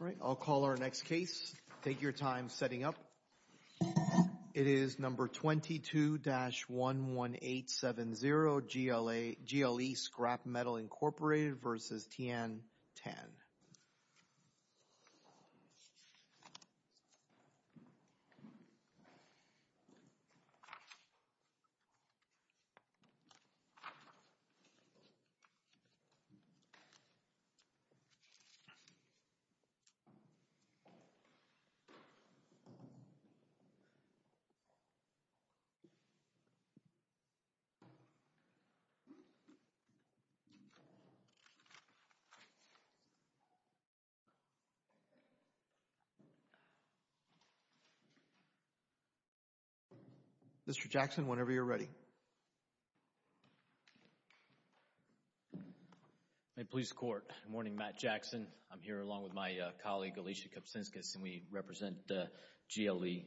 All right, I'll call our next case. Take your time setting up. It is No. 22-11870 GLE Scrap Metal, Inc. v. Tian Tan Mr. Jackson, whenever you're ready. Mid-Police Court. Good morning, Matt Jackson. I'm here along with my colleague Alicia Kopsinskas, and we represent GLE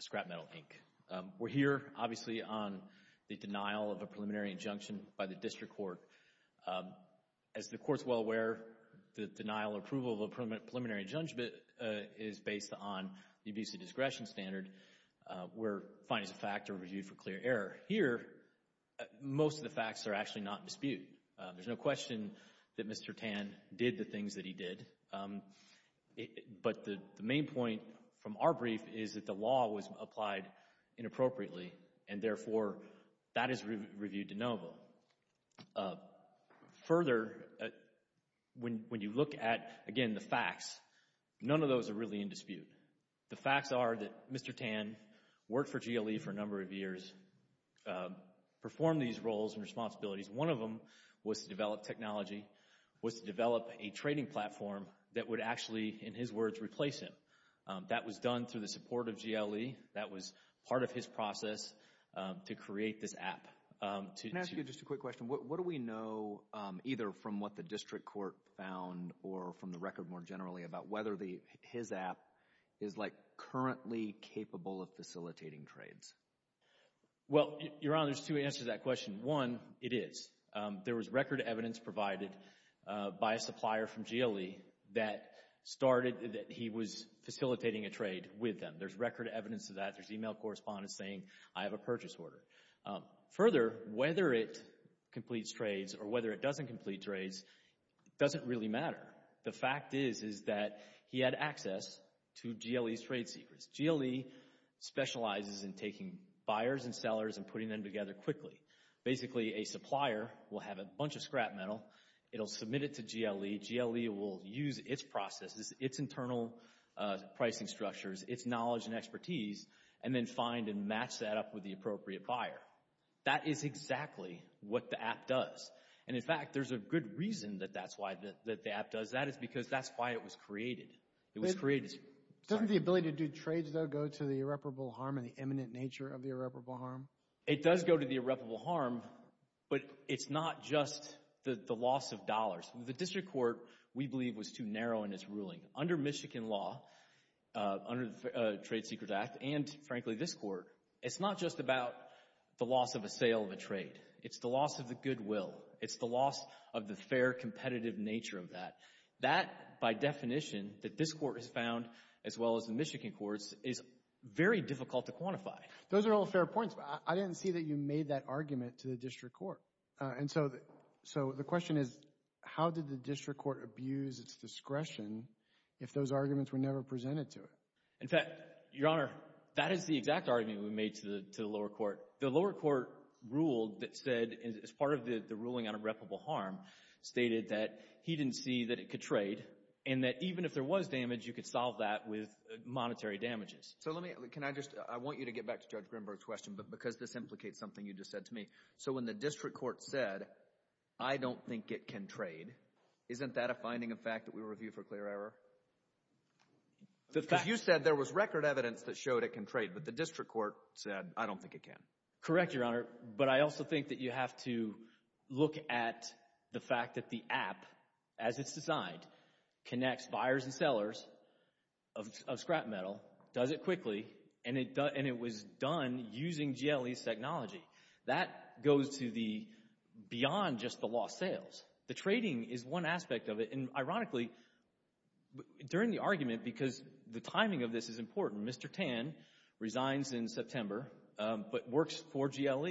Scrap Metal, Inc. We're here, obviously, on the denial of a preliminary injunction by the District Court. As the Court's well aware, the denial or approval of a preliminary injunction is based on the abuse of discretion standard, where findings of fact are reviewed for clear error. Here, most of the facts are actually not in dispute. There's no question that Mr. Tan did the things that he did, but the main point from our brief is that the law was applied inappropriately, and therefore that is reviewed de novo. Further, when you look at, again, the facts, none of those are really in dispute. The facts are that Mr. Tan worked for GLE for a number of years, performed these roles and responsibilities. One of them was to develop technology, was to develop a trading platform that would actually, in his words, replace him. That was done through the support of GLE. That was part of his process to create this app. Can I ask you just a quick question? What do we know, either from what the District Court found or from the record more generally, about whether his app is currently capable of facilitating trades? Well, Your Honor, there's two answers to that question. One, it is. There was record evidence provided by a supplier from GLE that started, that he was facilitating a trade with them. There's record evidence of that. There's email correspondence saying, I have a purchase order. Further, whether it completes trades or whether it doesn't complete trades doesn't really matter. The fact is, is that he had access to GLE's trade secrets. GLE specializes in taking buyers and sellers and putting them together quickly. Basically, a supplier will have a bunch of scrap metal. It'll submit it to GLE. GLE will use its processes, its internal pricing structures, its knowledge and expertise, and then find and match that up with the appropriate buyer. That is exactly what the app does. And in fact, there's a good reason that that's why the app does that. It's because that's why it was created. It was created. Doesn't the ability to do trades, though, go to the irreparable harm and the imminent nature of the irreparable harm? But it's not just the loss of dollars. The district court, we believe, was too narrow in its ruling. Under Michigan law, under the Trade Secrets Act, and frankly, this court, it's not just about the loss of a sale of a trade. It's the loss of the goodwill. It's the loss of the fair, competitive nature of that. That, by definition, that this court has found, as well as the Michigan courts, is very difficult to quantify. Those are all fair points, but I didn't see that you made that argument to the district court. And so, so the question is, how did the district court abuse its discretion if those arguments were never presented to it? In fact, Your Honor, that is the exact argument we made to the lower court. The lower court ruled that said, as part of the ruling on irreparable harm, stated that he didn't see that it could trade, and that even if there was damage, you could solve that with monetary damages. So let me, can I just, I want you to get back to Judge Grimberg's question, but because this implicates something you just said to me. So when the district court said, I don't think it can trade, isn't that a finding of fact that we review for clear error? The fact You said there was record evidence that showed it can trade, but the district court said, I don't think it can. Correct, Your Honor. But I also think that you have to look at the fact that the app, as it's designed, connects buyers and sellers of scrap metal, does it quickly, and it was done using GLE's technology. That goes to the, beyond just the lost sales. The trading is one aspect of it, and ironically, during the argument, because the timing of this is important, Mr. Tan resigns in September, but works for GLE.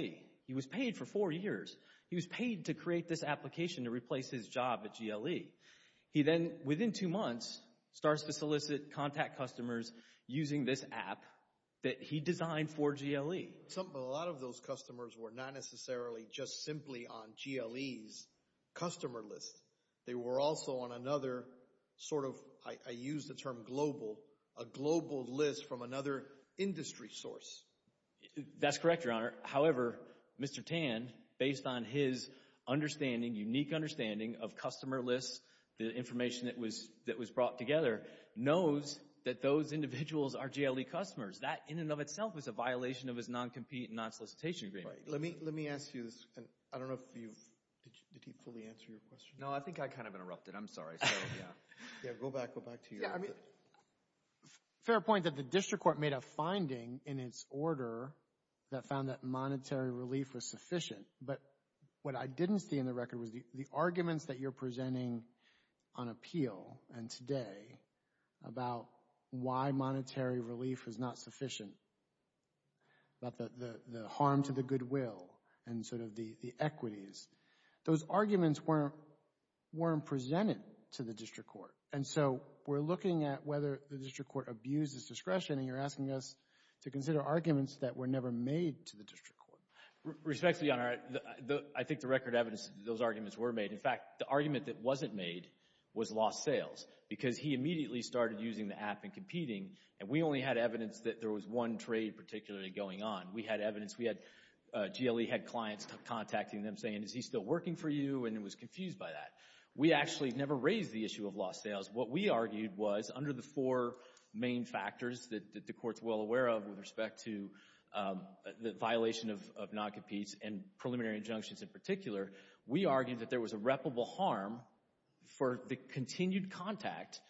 He was paid for four years. He was paid to create this application to He then, within two months, starts to solicit contact customers using this app that he designed for GLE. Some, a lot of those customers were not necessarily just simply on GLE's customer list. They were also on another sort of, I use the term global, a global list from another industry source. That's correct, Your Honor. However, Mr. Tan, based on his understanding, unique understanding of the information that was brought together, knows that those individuals are GLE customers. That, in and of itself, is a violation of his non-compete and non-solicitation agreement. Right. Let me ask you this, and I don't know if you've, did he fully answer your question? No, I think I kind of interrupted. I'm sorry. Yeah, go back, go back to your... Yeah, I mean, fair point that the district court made a finding in its order that found that monetary on appeal, and today, about why monetary relief is not sufficient, about the harm to the goodwill, and sort of the equities. Those arguments weren't presented to the district court. And so, we're looking at whether the district court abused its discretion, and you're asking us to consider arguments that were never made to the district court. Respectfully, Your Honor, I think the record evidence that those arguments were made. In fact, the argument that was lost sales, because he immediately started using the app and competing, and we only had evidence that there was one trade particularly going on. We had evidence, we had GLE head clients contacting them saying, is he still working for you? And it was confused by that. We actually never raised the issue of lost sales. What we argued was, under the four main factors that the court's well aware of with respect to the violation of non-competes, and preliminary injunctions in for the continued contact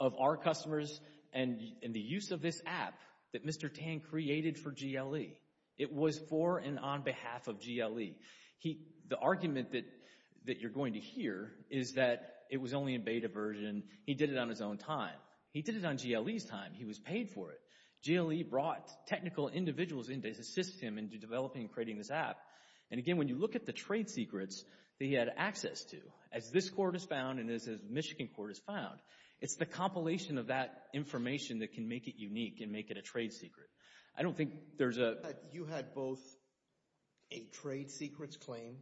of our customers and the use of this app that Mr. Tan created for GLE. It was for and on behalf of GLE. The argument that you're going to hear is that it was only a beta version. He did it on his own time. He did it on GLE's time. He was paid for it. GLE brought technical individuals in to assist him in developing and creating this app. And again, when you look at the trade secrets that he had access to, as this court has found, and as the Michigan court has found, it's the compilation of that information that can make it unique and make it a trade secret. I don't think there's a... You had both a trade secrets claim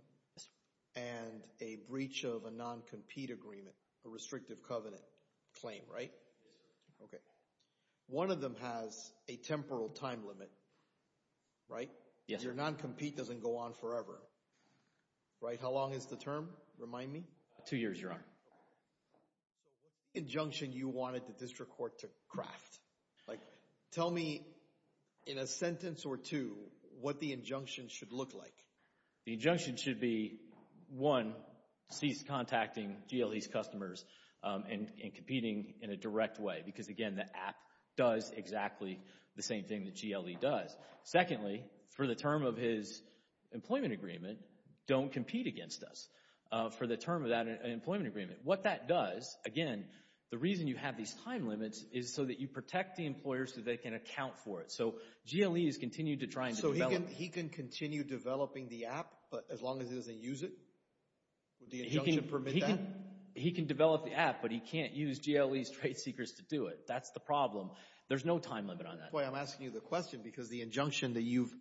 and a breach of a non-compete agreement, a restrictive covenant claim, right? Yes, sir. Okay. One of them has a temporal time limit, right? Yes. Your non-compete doesn't go on forever, right? How long is the term? Remind me. Two years, Your Honor. Okay. So what injunction you wanted the district court to craft? Like, tell me in a sentence or two what the injunction should look like. The injunction should be, one, cease contacting GLE's customers and competing in a direct way, because again, the app does exactly the same thing that GLE does. Secondly, for the term of his employment agreement, don't compete against us for the term of that employment agreement. What that does, again, the reason you have these time limits is so that you protect the employers so they can account for it. So GLE has continued to try and develop... But as long as he doesn't use it, would the injunction permit that? He can develop the app, but he can't use GLE's trade secrets to do it. That's the problem. There's no time limit on that. Boy, I'm asking you the question because the injunction that you've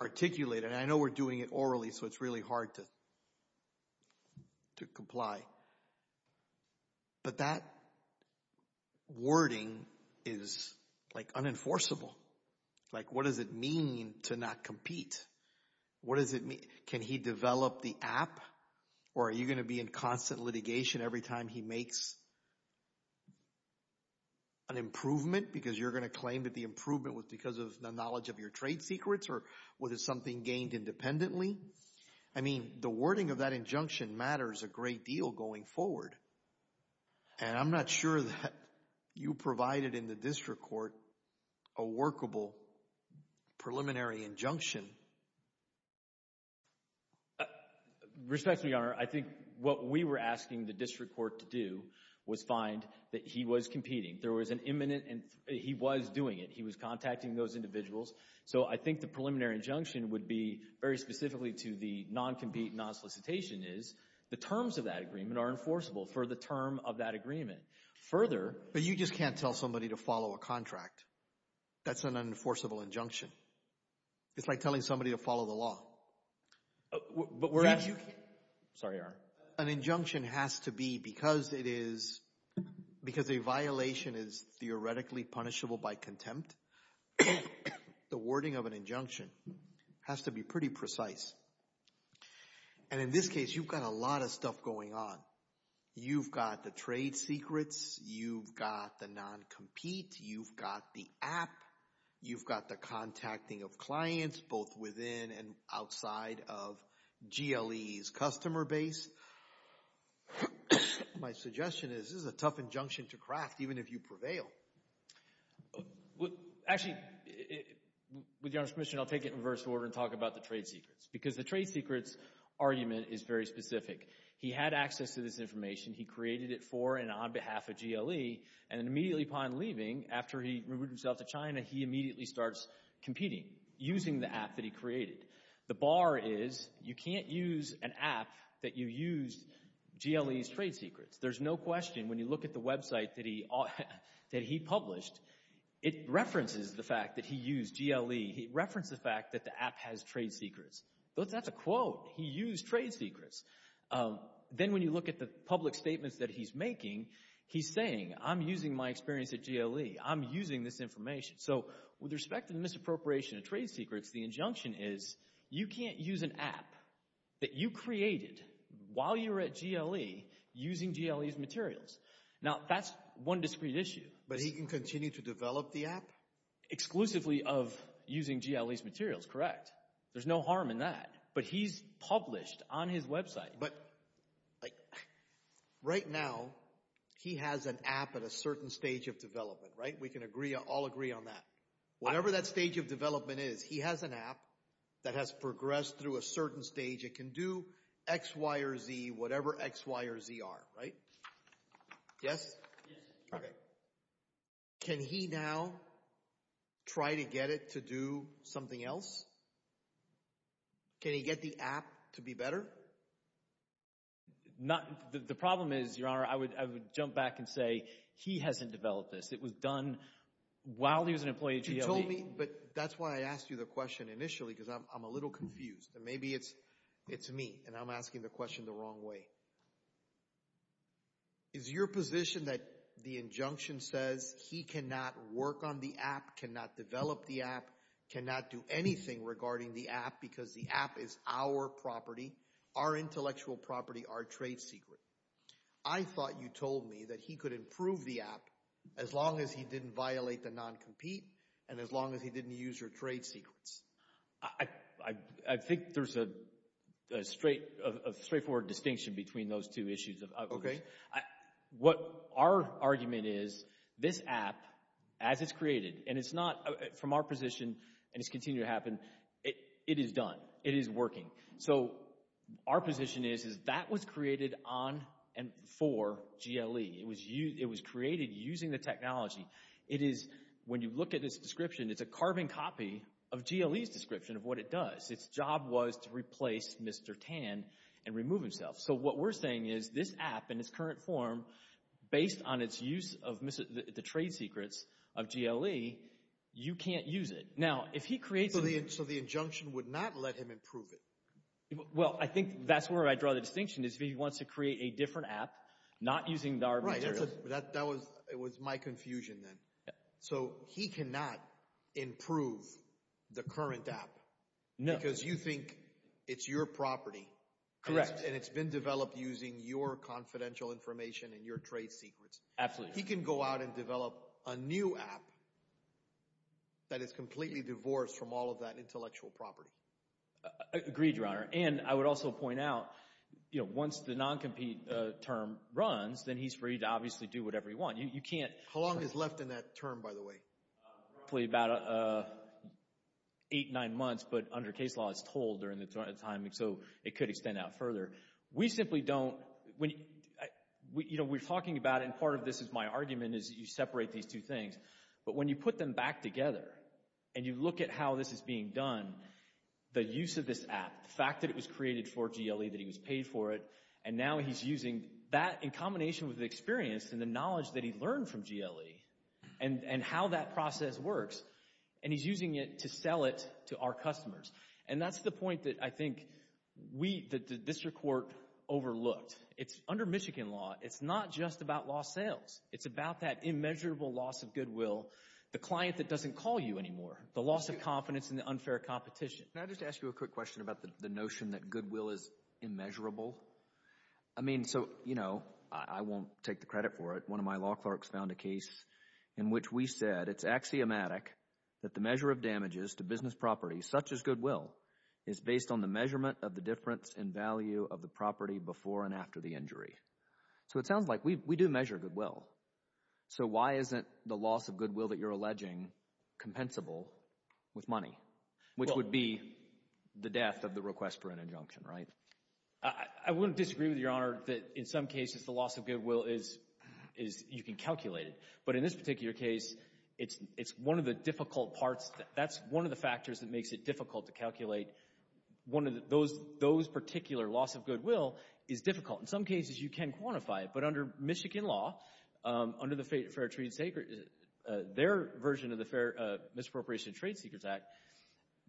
articulated, and I know we're doing it orally, so it's really hard to comply. But that wording is, like, unenforceable. Like, what does it mean to not compete? What does it mean? Can he develop the app, or are you going to be in constant litigation every time he makes an improvement because you're going to claim that the improvement was because of the knowledge of your going forward? And I'm not sure that you provided in the district court a workable preliminary injunction. Respectfully, Your Honor, I think what we were asking the district court to do was find that he was competing. There was an imminent... He was doing it. He was contacting those individuals. So I think the preliminary injunction would be very specifically to the non-compete, non-solicitation is the terms of that agreement are enforceable for the term of that agreement. Further... But you just can't tell somebody to follow a contract. That's an unenforceable injunction. It's like telling somebody to follow the law. But we're... Sorry, Your Honor. An injunction has to be, because it is... because a violation is theoretically punishable by contempt, the wording of an injunction has to be pretty precise. And in this case, you've got a lot of stuff going on. You've got the trade secrets. You've got the non-compete. You've got the app. You've got the contacting of clients, both within and outside of GLE's customer base. My suggestion is this is a tough injunction to craft, even if you prevail. Actually, with Your Honor's permission, I'll take it in reverse order and talk about the trade secrets, because the trade secrets argument is very specific. He had access to this information. He created it for and on behalf of GLE. And immediately upon leaving, after he removed himself to China, he immediately starts competing, using the app that he created. The bar is you can't use an app that you used GLE's trade secrets. There's no question, when you look at the website that he published, it references the fact that he used GLE. He referenced the fact that the app has trade secrets. That's a quote. He used trade secrets. Then when you look at the public statements that he's making, he's saying, I'm using my experience at GLE. I'm using this information. So with respect to the misappropriation of trade secrets, the injunction is you can't use an app that you created while you were at GLE, using GLE's materials. Now, that's one discrete issue. But he can continue to develop the app? Exclusively of using GLE's materials, correct. There's no harm in that. But he's published on his website. But right now, he has an app at a certain stage of development, right? We can all agree on that. Whatever that stage of development is, he has an app that has progressed through a certain stage. It can do X, Y, or Z, whatever X, Y, or Z are, right? Yes? Okay. Can he now try to get it to do something else? Can he get the app to be better? The problem is, Your Honor, I would jump back and say, he hasn't developed this. It was done while he was an employee at GLE. You told me, but that's why I asked you the question initially, because I'm a little confused. And maybe it's me, and I'm asking the question the wrong way. Is your position that the injunction says he cannot work on the app, cannot develop the app, cannot do anything regarding the app, because the app is our property? Our intellectual property, our trade secret. I thought you told me that he could improve the app as long as he didn't violate the non-compete, and as long as he didn't use your trade secrets. I think there's a straightforward distinction between those two issues. Okay. What our argument is, this app, as it's created, and it's not from our position, and it's continued to happen, it is done. It is working. So our position is, is that was created on and for GLE. It was created using the technology. It is, when you look at this description, it's a carving copy of GLE's description of what it does. Its job was to replace Mr. Tan and remove himself. So what we're saying is, this app in its current form, based on its use of the trade secrets of GLE, you can't use it. Now, if he creates it— So the injunction would not let him improve it? Well, I think that's where I draw the distinction, is if he wants to create a different app, not using our— Right, that was my confusion then. So he cannot improve the current app? No. Because you think it's your property? Correct. And it's been developed using your confidential information and your trade secrets? Absolutely. He can go out and develop a new app that is completely divorced from all of that intellectual property? Agreed, Your Honor. And I would also point out, you know, once the non-compete term runs, then he's free to obviously do whatever he wants. You can't— How long is left in that term, by the way? Probably about eight, nine months. But under case law, it's told during that time, so it could extend out further. We simply don't— You know, we're talking about, and part of this is my argument, is you separate these two things. But when you put them back together and you look at how this is being done, the use of this app, the fact that it was created for GLE, that he was paid for it, and now he's using that in combination with the experience and the knowledge that he learned from GLE and how that process works, and he's using it to sell it to our customers. And that's the point that I think we, the district court, overlooked. It's, under Michigan law, it's not just about lost sales. It's about that immeasurable loss of goodwill, the client that doesn't call you anymore, the loss of confidence in the unfair competition. Can I just ask you a quick question about the notion that goodwill is immeasurable? I mean, so, you know, I won't take the credit for it. One of my law clerks found a case in which we said, it's axiomatic that the measure of damages to business property, such as goodwill, is based on the measurement of the difference in value of the property before and after the injury. So it sounds like we do measure goodwill. So why isn't the loss of goodwill that you're alleging compensable with money, which would be the death of the request for an injunction, right? I wouldn't disagree with Your Honor that, in some cases, the loss of goodwill is, is, you can calculate it. But in this particular case, it's, it's one of the difficult parts. That's one of the factors that makes it difficult to calculate. One of those, those particular loss of goodwill is difficult. In some cases, you can quantify it. But under Michigan law, under the Fair Trade and Secret, their version of the Misappropriation of Trade Secrets Act,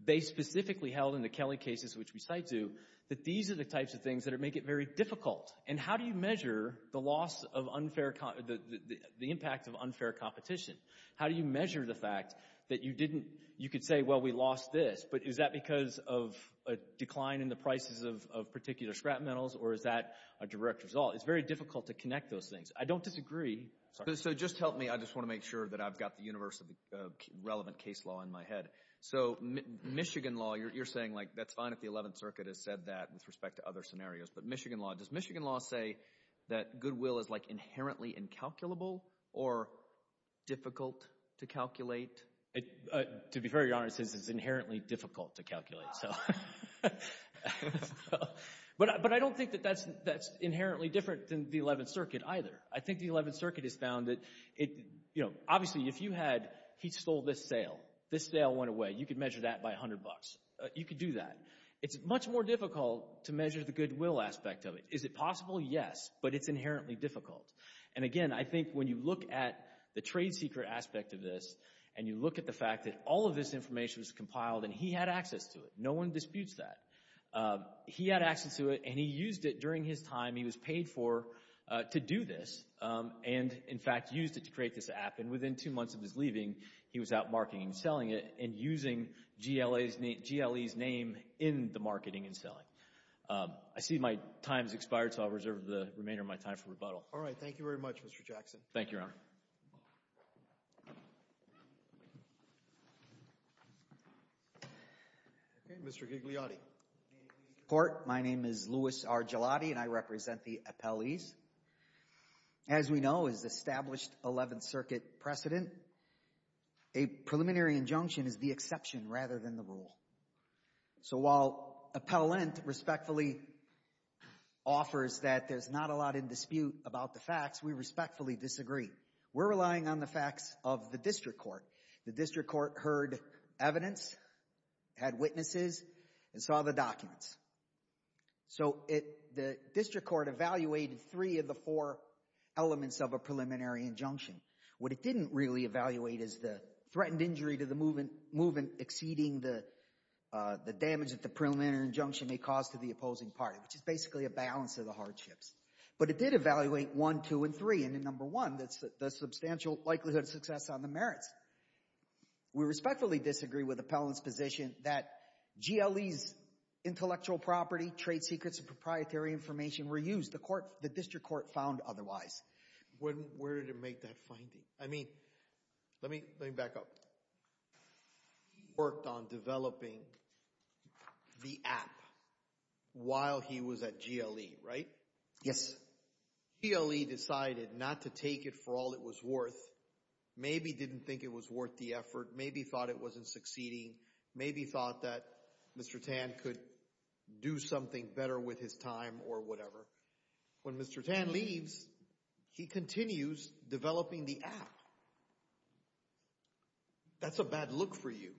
they specifically held in the Kelly cases, which we cite to, that these are the types of things that make it very difficult. And how do you measure the loss of unfair, the impact of unfair competition? How do you measure the fact that you didn't, you could say, well, we lost this. But is that because of a decline in the prices of particular scrap metals? Or is that a direct result? It's very difficult to connect those things. I don't disagree. So just help me. I just want to make sure that I've got the universe of the relevant case law in my head. So Michigan law, you're saying, like, that's fine if the 11th Circuit has said that with respect to other scenarios. But Michigan law, does Michigan law say that goodwill is, like, inherently incalculable? Or difficult to calculate? To be very honest, it's inherently difficult to calculate. So, but I don't think that that's inherently different than the 11th Circuit either. I think the 11th Circuit has found that it, you know, obviously, if you had, he stole this sale, this sale went away, you could measure that by 100 bucks. You could do that. It's much more difficult to measure the goodwill aspect of it. Is it possible? Yes. But it's inherently difficult. And again, I think when you look at the trade secret aspect of this, and you look at the fact that all of this information was compiled and he had access to it. No one disputes that. He had access to it and he used it during his time he was paid for to do this. And in fact, used it to create this app. And within two months of his leaving, he was out marketing and selling it and using GLA's name, GLE's name in the marketing and selling. I see my time's expired. So I'll reserve the remainder of my time for rebuttal. All right. Thank you very much, Mr. Jackson. Thank you, Your Honor. Okay, Mr. Gigliotti. My name is Louis R. Gilotti and I represent the appellees. As we know, as established 11th Circuit precedent, a preliminary injunction is the exception rather than the rule. So while appellant respectfully offers that there's not a lot in dispute about the facts, we respectfully disagree. We're relying on the facts of the district court. The district court heard evidence, had witnesses, and saw the documents. So the district court evaluated three of the four elements of a preliminary injunction. What it didn't really evaluate is the threatened injury to the movement exceeding the damage that the preliminary injunction may cause to the opposing party, which is basically a balance of the hardships. But it did evaluate one, two, and three. And in number one, that's the substantial likelihood of success on the merits. We respectfully disagree with appellant's position that GLE's intellectual property, trade secrets, and proprietary information were used. The court, the district court found otherwise. Where did it make that finding? I mean, let me back up. He worked on developing the app while he was at GLE, right? Yes. GLE decided not to take it for all it was worth. Maybe didn't think it was worth the effort. Maybe thought it wasn't succeeding. Maybe thought that Mr. Tan could do something better with his time or whatever. When Mr. Tan leaves, he continues developing the app. That's a bad look for you.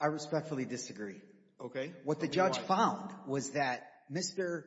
I respectfully disagree. Okay. What the judge found was that Mr.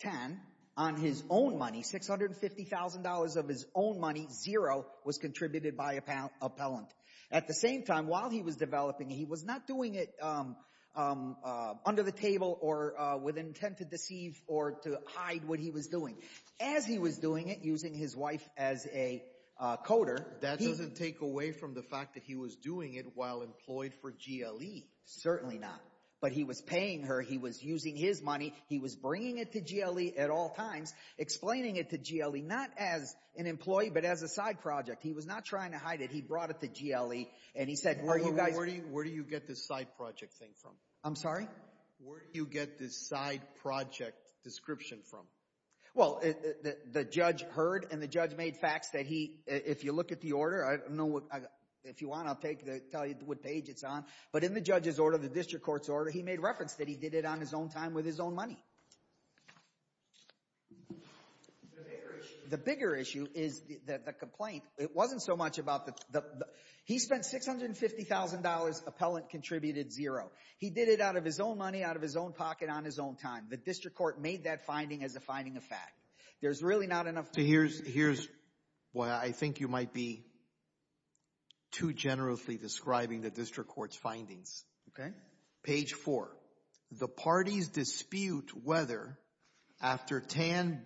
Tan, on his own money, $650,000 of his own money, zero, was contributed by appellant. At the same time, while he was developing, he was not doing it under the table or with intent to deceive or to hide what he was doing. As he was doing it, using his wife as a coder. That doesn't take away from the fact that he was doing it while employed for GLE. Certainly not. But he was paying her. He was using his money. He was bringing it to GLE at all times. Explaining it to GLE, not as an employee, but as a side project. He was not trying to hide it. He brought it to GLE and he said, are you guys... Where do you get this side project thing from? I'm sorry? Where do you get this side project description from? Well, the judge heard and the judge made facts that he, if you look at the order, I don't know if you want, I'll tell you what page it's on. But in the judge's order, the district court's order, he made reference that he did it on his own time with his own money. The bigger issue is the complaint. It wasn't so much about the... He spent $650,000. Appellant contributed zero. He did it out of his own money, out of his own pocket, on his own time. The district court made that finding as a finding of fact. There's really not enough... Here's what I think you might be too generously describing the district court's findings. Page four. The parties dispute whether, after Tan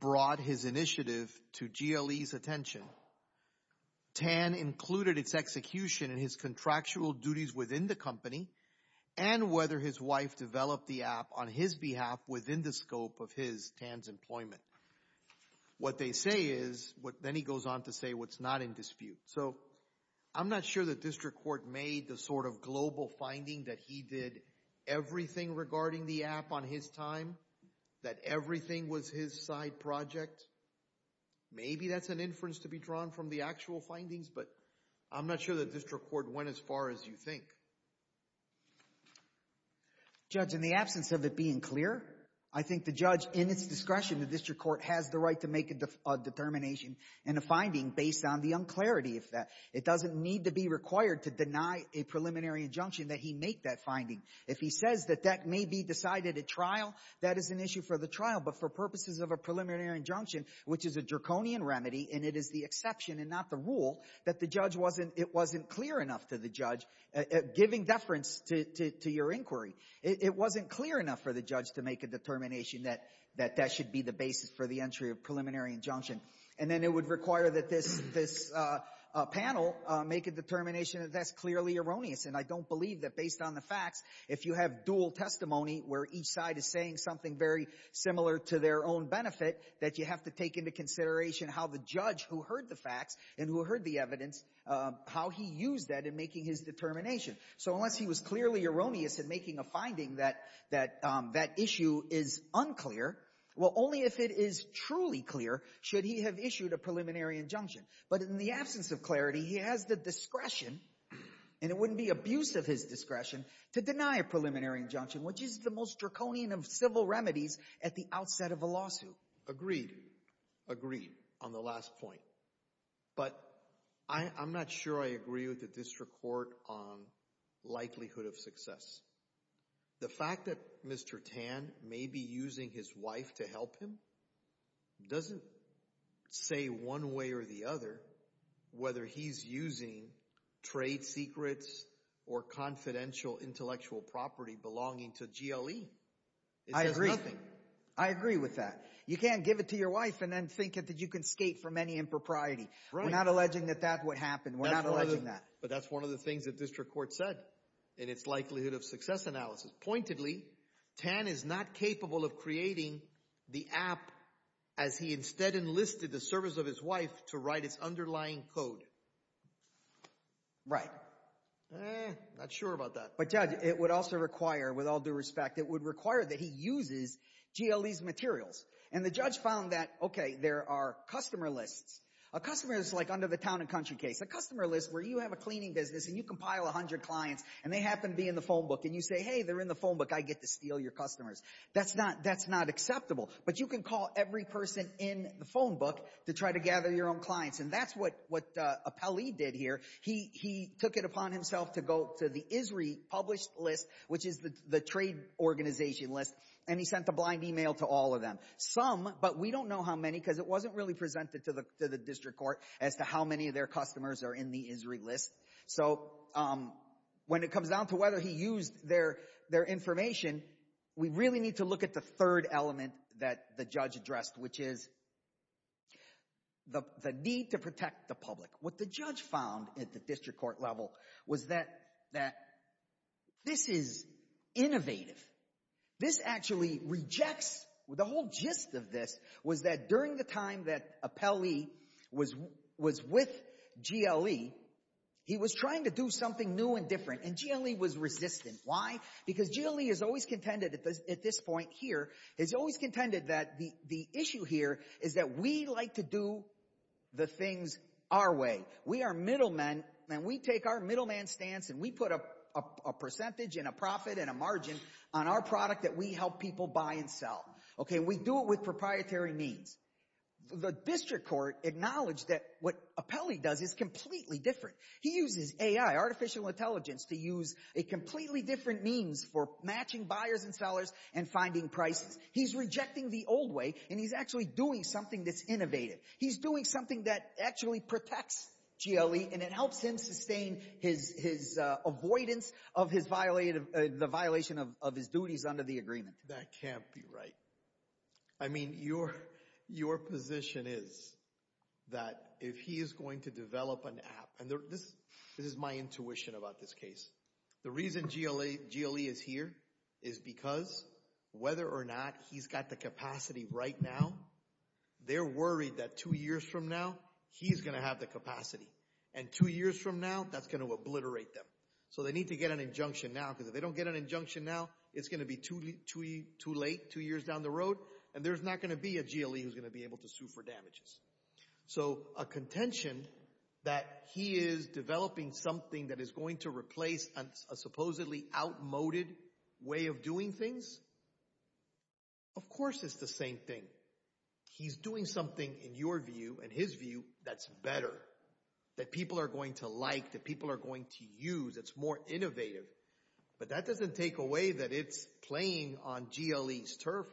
brought his initiative to GLE's attention, Tan included its execution and his contractual duties within the company and whether his wife developed the app on his behalf within the scope of his, Tan's employment. What they say is, then he goes on to say what's not in dispute. So I'm not sure the district court made the sort of global finding that he did everything regarding the app on his time, that everything was his side project. Maybe that's an inference to be drawn from the actual findings, but I'm not sure the district court went as far as you think. Judge, in the absence of it being clear, I think the judge, in its discretion, the district court has the right to make a determination and a finding based on the unclarity of that. It doesn't need to be required to deny a preliminary injunction that he make that finding. If he says that that may be decided at trial, that is an issue for the trial, but for purposes of a preliminary injunction, which is a draconian remedy, and it is the exception and not the rule, that the judge wasn't... It wasn't clear enough to the judge, giving deference to your inquiry. It wasn't clear enough for the judge to make a determination that that should be the basis for the entry of preliminary injunction. And then it would require that this panel make a determination that that's clearly erroneous. And I don't believe that based on the facts, if you have dual testimony where each side is saying something very similar to their own benefit, that you have to take into consideration how the judge who heard the facts and who heard the evidence, how he used that in making his determination. So unless he was clearly erroneous in making a finding that that issue is unclear, well, only if it is truly clear should he have issued a preliminary injunction. But in the absence of clarity, he has the discretion, and it wouldn't be abuse of his discretion, to deny a preliminary injunction, which is the most draconian of civil remedies at the outset of a lawsuit. Agreed. Agreed on the last point. But I'm not sure I agree with the district court on likelihood of success. The fact that Mr. Tan may be using his wife to help him doesn't say one way or the other whether he's using trade secrets or confidential intellectual property belonging to GLE. I agree. It says nothing. I agree with that. You can't give it to your wife and then think that you can skate from any impropriety. We're not alleging that that would happen. We're not alleging that. But that's one of the things that district court said in its likelihood of success analysis. Pointedly, Tan is not capable of creating the app as he instead enlisted the service of his wife to write its underlying code. Right. Not sure about that. But Judge, it would also require, with all due respect, it would require that he uses GLE's materials. And the judge found that, okay, there are customer lists. A customer is like under the town and country case. A customer list where you have a cleaning business and you compile 100 clients and they happen to be in the phone book. And you say, hey, they're in the phone book. I get to steal your customers. That's not acceptable. But you can call every person in the phone book to try to gather your own clients. And that's what Appelli did here. He took it upon himself to go to the ISRI published list, which is the trade organization list, and he sent a blind email to all of them. Some, but we don't know how many because it wasn't really presented to the district court as to how many of their customers are in the ISRI list. So when it comes down to whether he used their information, we really need to look at the third element that the judge addressed, which is the need to protect the public. What the judge found at the district court level was that this is innovative. This actually rejects, the whole gist of this was that during the time that Appelli was with GLE, he was trying to do something new and different. And GLE was resistant. Why? Because GLE has always contended at this point here, has always contended that the issue here is that we like to do the things our way. We are middlemen and we take our middleman stance and we put a percentage and a profit and a margin on our product that we help people buy and sell. Okay, we do it with proprietary means. The district court acknowledged that what Appelli does is completely different. He uses AI, artificial intelligence, to use a completely different means for matching buyers and sellers and finding prices. He's rejecting the old way and he's actually doing something that's innovative. He's doing something that actually protects GLE and it helps him sustain his avoidance of the violation of his duties under the agreement. That can't be right. I mean, your position is that if he is going to develop an app, and this is my intuition about this case, the reason GLE is here is because whether or not he's got the capacity right now, they're worried that two years from now, he's going to have the capacity. And two years from now, that's going to obliterate them. So they need to get an injunction now because if they don't get an injunction now, it's going to be too late two years down the road and there's not going to be a GLE who's going to be able to sue for damages. So a contention that he is developing something that is going to replace a supposedly outmoded way of doing things, of course it's the same thing. He's doing something in your view, in his view, that's better, that people are going to like, that people are going to use. It's more innovative. But that doesn't take away that it's playing on GLE's turf.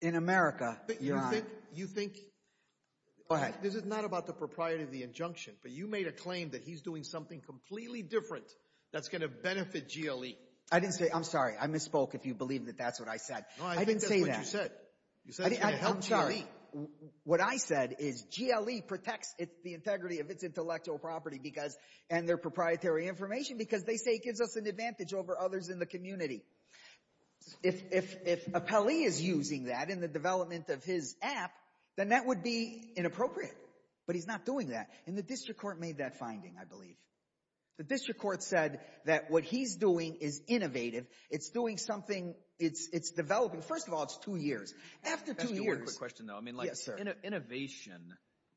In America, Your Honor. You think... Go ahead. This is not about the propriety of the injunction, but you made a claim that he's doing something completely different that's going to benefit GLE. I didn't say... I'm sorry. I misspoke if you believe that that's what I said. No, I think that's what you said. You said it's going to help GLE. What I said is GLE protects the integrity of its intellectual property because, and their proprietary information, because they say it gives us an advantage over others in the community. If Apelli is using that in the development of his app, then that would be inappropriate. But he's not doing that. And the district court made that finding, I believe. The district court said that what he's doing is innovative. It's doing something, it's developing. First of all, it's two years. After two years... Innovation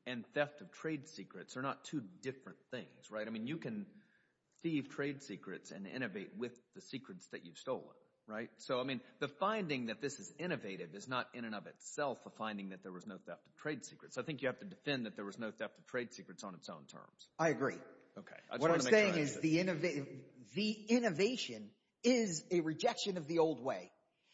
and theft of trade secrets are not two different things. You can thieve trade secrets and innovate with the secrets that you've stolen. The finding that this is innovative is not in and of itself a finding that there was no theft of trade secrets. I think you have to defend that there was no theft of trade secrets on its own terms. I agree. Okay. What I'm saying is the innovation is a rejection of the old way.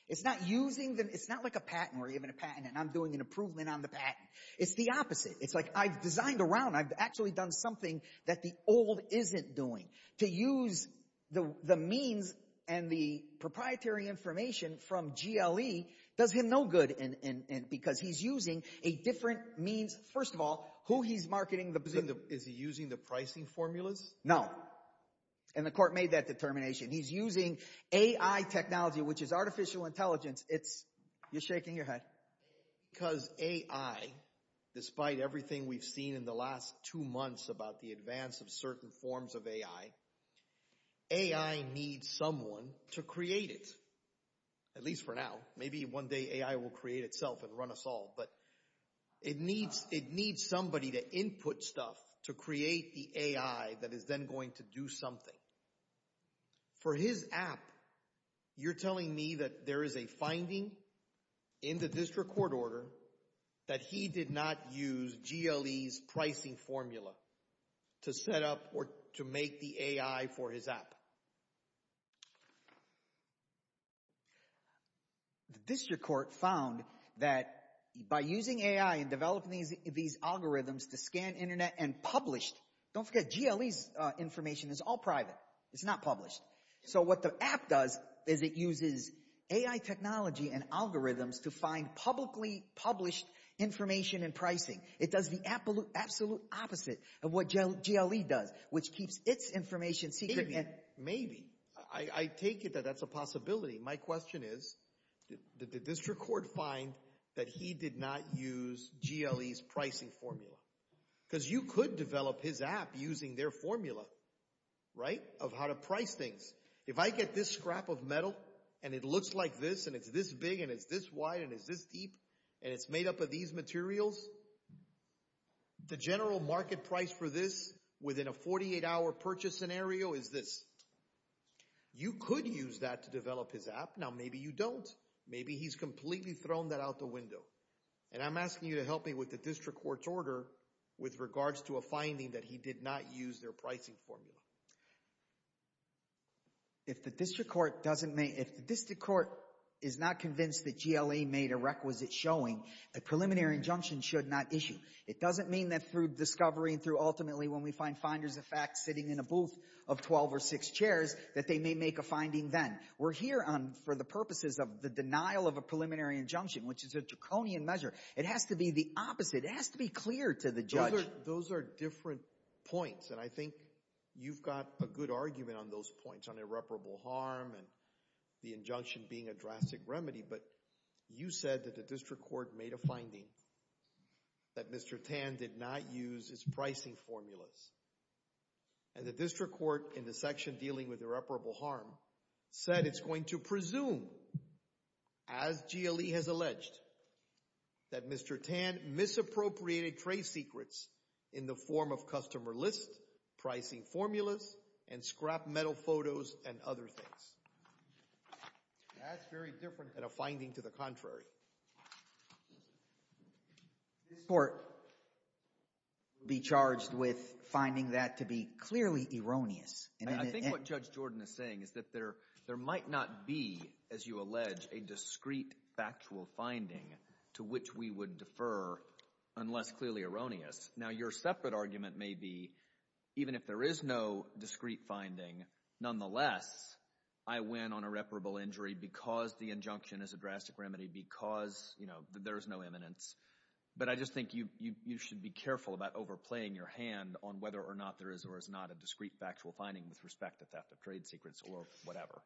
It's not using them, it's not like a patent where you have a patent and I'm doing an improvement on the patent. It's the opposite. It's like I've designed around, I've actually done something that the old isn't doing. To use the means and the proprietary information from GLE does him no good because he's using a different means. First of all, who he's marketing... Is he using the pricing formulas? No. And the court made that determination. He's using AI technology, which is artificial intelligence. You're shaking your head. Because AI, despite everything we've seen in the last two months about the advance of certain forms of AI, AI needs someone to create it, at least for now. Maybe one day AI will create itself and run us all. But it needs somebody to input stuff to create the AI that is then going to do something. For his app, you're telling me that there is a finding in the district court order that he did not use GLE's pricing formula to set up or to make the AI for his app? The district court found that by using AI and developing these algorithms to scan internet and publish... Don't forget GLE's information is all private. It's not published. So what the app does is it uses AI technology and algorithms to find publicly published information and pricing. It does the absolute opposite of what GLE does, which keeps its information secret. Maybe. I take it that that's a possibility. My question is, did the district court find that he did not use GLE's pricing formula? Because you could develop his app using their formula, right, of how to price things. If I get this scrap of metal, and it looks like this, and it's this big, and it's this wide, and it's this deep, and it's made up of these materials, the general market price for this within a 48-hour purchase scenario is this. You could use that to develop his app. Now, maybe you don't. Maybe he's completely thrown that out the window. And I'm asking you to help me with the district court's order with regards to a finding that he did not use their pricing formula. If the district court is not convinced that GLE made a requisite showing, the preliminary injunction should not issue. It doesn't mean that through discovery and through ultimately when we find finders of fact sitting in a booth of 12 or 6 chairs that they may make a finding then. We're here for the purposes of the denial of a preliminary injunction, which is a draconian measure. It has to be the opposite. It has to be clear to the judge. Those are different points. And I think you've got a good argument on those points on irreparable harm and the injunction being a drastic remedy. But you said that the district court made a finding that Mr. Tan did not use his pricing formulas. And the district court in the section dealing with irreparable harm said it's going to presume, as GLE has alleged, that Mr. Tan misappropriated trade secrets in the form of customer lists, pricing formulas, and scrap metal photos and other things. That's very different than a finding to the contrary. This court will be charged with finding that to be clearly erroneous. I think what Judge Jordan is saying is that there might not be, as you allege, a discrete factual finding to which we would defer unless clearly erroneous. Now, your separate argument may be, even if there is no discrete finding, nonetheless, I win on irreparable injury because the injunction is a drastic remedy because there is no eminence. But I just think you should be careful about overplaying your hand on whether or not there is or is not a discrete factual finding with respect to theft of trade secrets or whatever.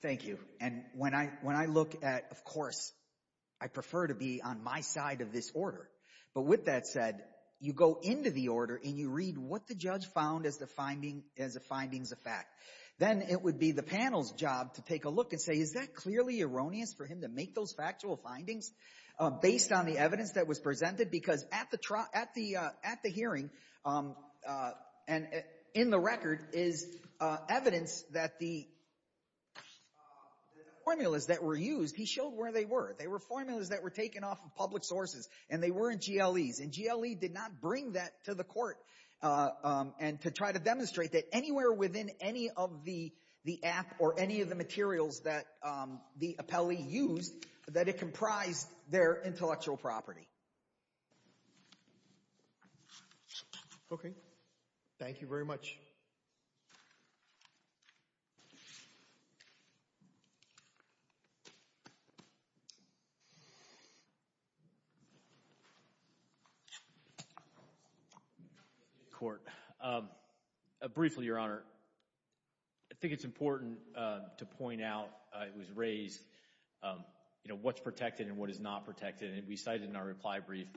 Thank you. And when I look at, of course, I prefer to be on my side of this order. But with that said, you go into the order and you read what the judge found as the findings of fact. Then it would be the panel's job to take a look and say, is that clearly erroneous for him to make those factual findings based on the evidence that was presented? Because at the hearing and in the record is evidence that the formulas that were used, he showed where they were. They were formulas that were taken off of public sources. And they weren't GLEs. And GLE did not bring that to the court and to try to demonstrate that anywhere within any of the app or any of the materials that the appellee used, that it comprised their intellectual property. Okay. Thank you very much. Thank you, Court. Briefly, Your Honor, I think it's important to point out, it was raised, you know, what's protected and what is not protected. And we cited in our reply brief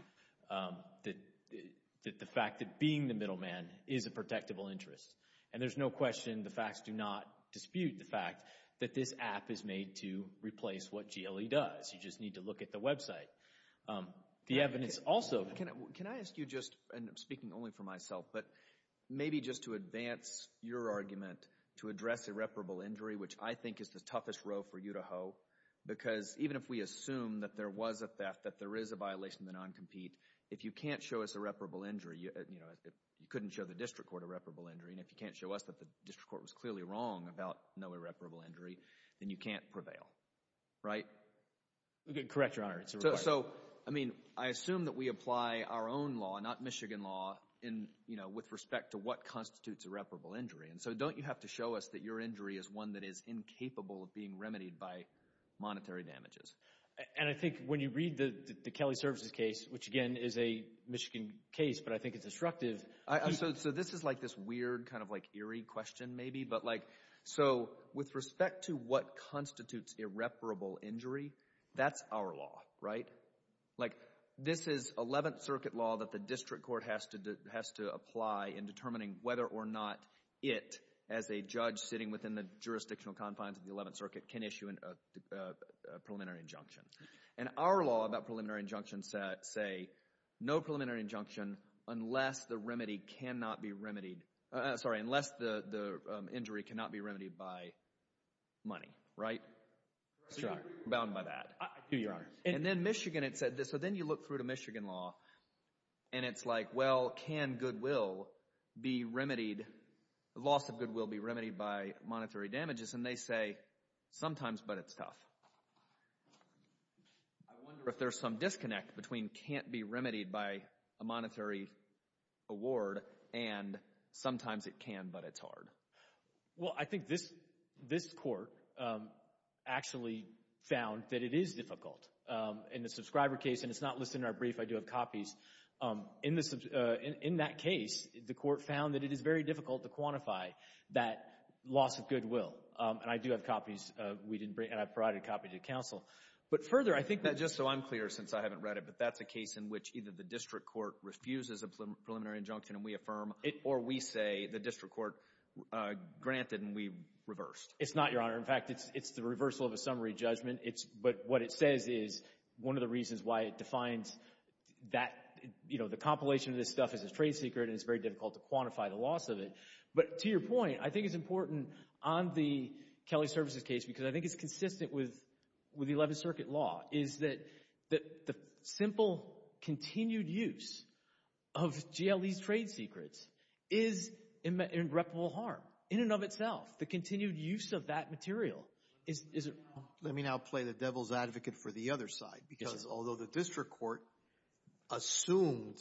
that the fact that being the middleman is a protectable interest. And there's no question, the facts do not dispute the fact that this app is made to replace what GLE does. You just need to look at the website. The evidence also... Can I ask you just, and I'm speaking only for myself, but maybe just to advance your argument to address irreparable injury, which I think is the toughest row for you to hoe. Because even if we assume that there was a theft, that there is a violation of the non-compete, if you can't show us irreparable injury, you know, you couldn't show the district court irreparable injury. And if you can't show us that the district court was clearly wrong about no irreparable injury, then you can't prevail. Right? Correct, Your Honor. So, I mean, I assume that we apply our own law, not Michigan law, in, you know, with respect to what constitutes irreparable injury. And so don't you have to show us that your injury is one that is incapable of being remedied by monetary damages? And I think when you read the Kelly Services case, which, again, is a Michigan case, but I think it's destructive. So this is like this weird, kind of like eerie question, maybe. So with respect to what constitutes irreparable injury, that's our law, right? Like, this is Eleventh Circuit law that the district court has to apply in determining whether or not it, as a judge sitting within the jurisdictional confines of the Eleventh Circuit, can issue a preliminary injunction. And our law about preliminary injunctions say no preliminary injunction unless the remedy cannot be remedied by money. Right? So you're bound by that. I do, Your Honor. And then Michigan, it said this. So then you look through to Michigan law, and it's like, well, can goodwill be remedied, loss of goodwill be remedied by monetary damages? And they say, sometimes, but it's tough. I wonder if there's some disconnect between can't be remedied by a monetary award and sometimes it can, but it's hard. Well, I think this court actually found that it is difficult. In the subscriber case, and it's not listed in our brief, I do have copies, in that case, the court found that it is very difficult to quantify that loss of goodwill. And I do have copies, and I've provided a copy to counsel. But further, I think that, just so I'm clear, since I haven't read it, but that's a case in which either the district court refuses a preliminary injunction and we affirm, or we say the district court granted and we reversed. It's not, Your Honor. In fact, it's the reversal of a summary judgment. But what it says is, one of the reasons why it defines that, you know, the compilation of this stuff as a trade secret, and it's very difficult to quantify the loss of it. But to your point, I think it's important on the Kelly Services case, because I think it's consistent with the 11th Circuit law, is that the simple, continued use of GLE's trade secrets is irreparable harm, in and of itself. The continued use of that material is... Let me now play the devil's advocate for the other side, because although the district court assumed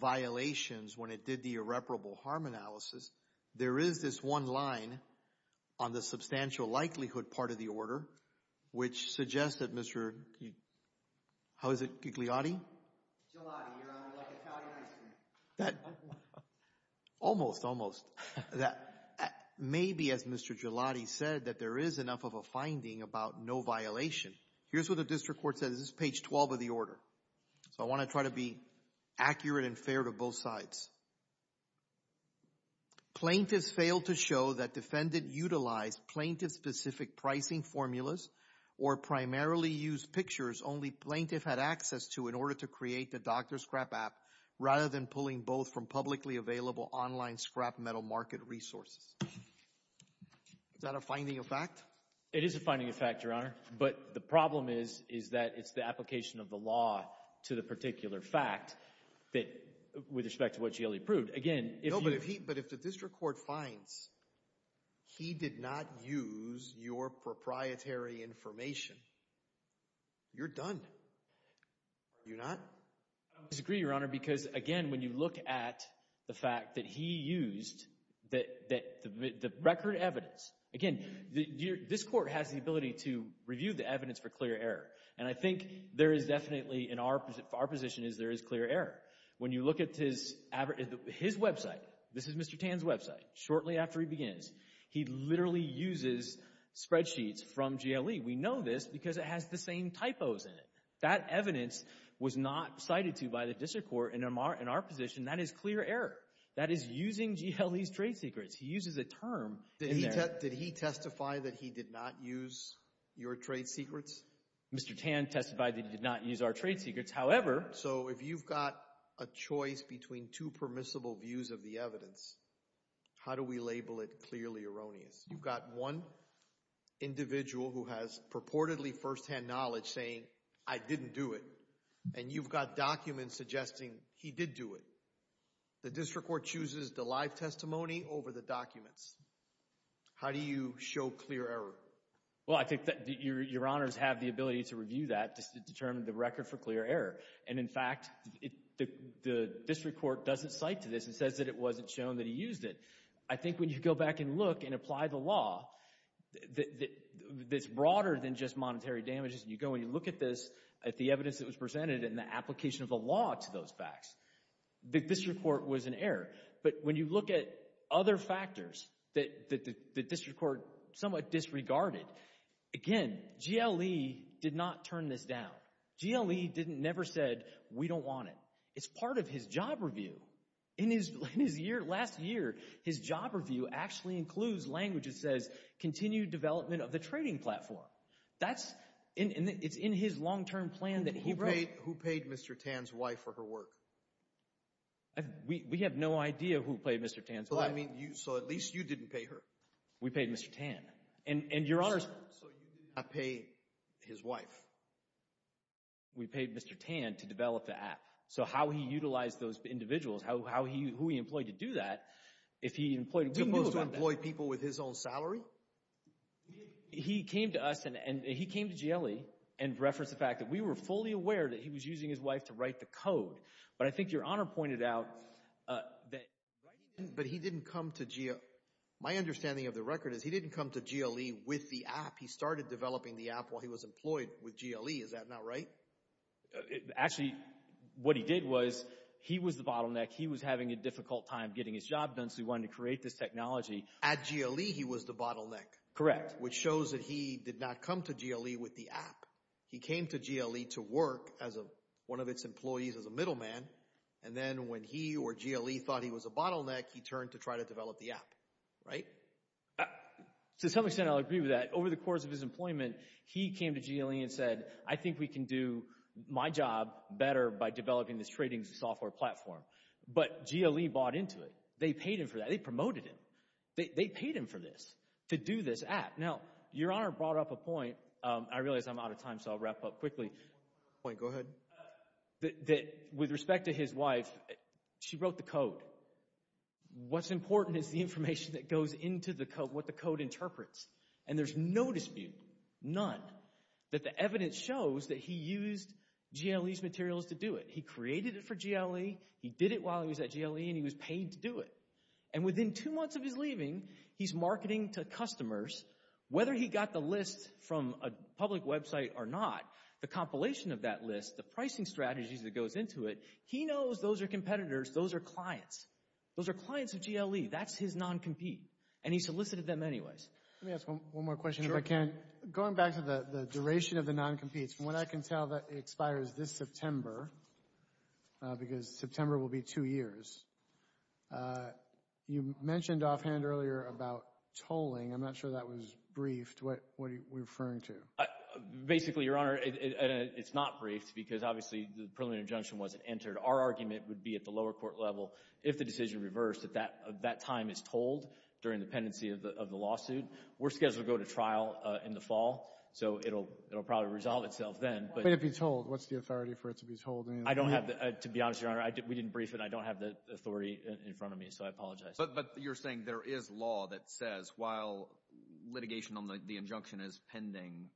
violations when it did the irreparable harm analysis, there is this one line on the substantial likelihood part of the order, which suggests that Mr., how is it, Gigliotti? Gigliotti, Your Honor, like Italian ice cream. Almost, almost. Maybe, as Mr. Gigliotti said, that there is enough of a finding about no violation. Here's what the district court says. This is page 12 of the order. So I want to try to be accurate and fair to both sides. Plaintiffs failed to show that defendant utilized plaintiff-specific pricing formulas or primarily used pictures only plaintiff had access to in order to create the Dr. Scrap app, rather than pulling both from publicly available online scrap metal market resources. Is that a finding of fact? It is a finding of fact, Your Honor, but the problem is, is that it's the application of the law to the particular fact that, with respect to what Gigliotti proved. Again, if you... No, but if he, but if the district court finds he did not use your proprietary information, you're done. You're not? I disagree, Your Honor, because, again, when you look at the fact that he used the record evidence. Again, this court has the ability to review the evidence for clear error, and I think there is definitely, in our position, there is clear error. When you look at his website, this is Mr. Tan's website, shortly after he begins, he literally uses spreadsheets from GLE. We know this because it has the same typos in it. That evidence was not cited to by the district court in our position. That is clear error. That is using GLE's trade secrets. He uses a term in there. Did he testify that he did not use your trade secrets? Mr. Tan testified that he did not use our trade secrets. However... So if you've got a choice between two permissible views of the evidence, how do we label it clearly erroneous? You've got one individual who has purportedly first-hand knowledge saying, I didn't do it. And you've got documents suggesting he did do it. The district court chooses the live testimony over the documents. How do you show clear error? Well, I think that Your Honors have the ability to review that to determine the record for clear error. And, in fact, the district court doesn't cite to this. It says that it wasn't shown that he used it. I think when you go back and look and apply the law, that's broader than just monetary damages. You go and you look at this, at the evidence that was presented, and the application of the law to those facts, the district court was in error. But when you look at other factors that the district court somewhat disregarded, again, GLE did not turn this down. GLE never said, we don't want it. It's part of his job review. In his year, last year, his job review actually includes language that says, continue development of the trading platform. That's, it's in his long-term plan that he wrote. Who paid Mr. Tan's wife for her work? We have no idea who paid Mr. Tan's wife. Well, I mean, so at least you didn't pay her. We paid Mr. Tan. And Your Honors. We paid Mr. Tan to develop the app. So how he utilized those individuals, how he, who he employed to do that, if he employed, we knew about that. As opposed to employ people with his own salary? He came to us and he came to GLE and referenced the fact that we were fully aware that he was using his wife to write the code. But I think Your Honor pointed out that. But he didn't come to GLE. My understanding of the record is he didn't come to GLE with the app. He started developing the app while he was employed with GLE. Is that not right? It actually, what he did was he was the bottleneck. He was having a difficult time getting his job done. So he wanted to create this technology. At GLE, he was the bottleneck. Correct. Which shows that he did not come to GLE with the app. He came to GLE to work as a, one of its employees as a middleman. And then when he or GLE thought he was a bottleneck, he turned to try to develop the app, right? To some extent, I'll agree with that. Over the course of his employment, he came to GLE and said, I think we can do my job better by developing this trading software platform. But GLE bought into it. They paid him for that. They promoted him. They paid him for this, to do this app. Now, Your Honor brought up a point. I realize I'm out of time, so I'll wrap up quickly. Point, go ahead. That with respect to his wife, she wrote the code. What's important is the information that goes into the code, what the code interprets. And there's no dispute, none, that the evidence shows that he used GLE's materials to do it. He created it for GLE. He did it while he was at GLE, and he was paid to do it. And within two months of his leaving, he's marketing to customers. Whether he got the list from a public website or not, the compilation of that list, the pricing strategies that goes into it, he knows those are competitors. Those are clients. Those are clients of GLE. That's his non-compete. And he solicited them anyways. Let me ask one more question, if I can. Going back to the duration of the non-competes, from what I can tell, it expires this September, because September will be two years. You mentioned offhand earlier about tolling. I'm not sure that was briefed. What are you referring to? Basically, Your Honor, it's not briefed, because obviously the preliminary injunction wasn't entered. Our argument would be at the lower court level, if the decision reversed, that that time is tolled during the pendency of the lawsuit. We're scheduled to go to trial in the fall, so it'll probably resolve itself then. But it'd be tolled. What's the authority for it to be tolled? I don't have the... To be honest, Your Honor, we didn't brief it, and I don't have the authority in front of me, so I apologize. But you're saying there is law that says, while litigation on the injunction is pending,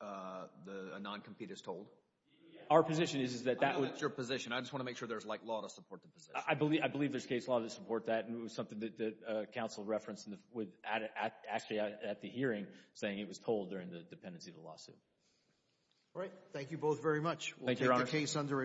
the non-compete is tolled? Our position is that that would... That's your position. I just want to make sure there's law to support the position. I believe there's case law to support that, and it was something that the counsel referenced at the hearing, saying it was tolled during the pendency of the lawsuit. All right. Thank you both very much. We'll take the case under advisement.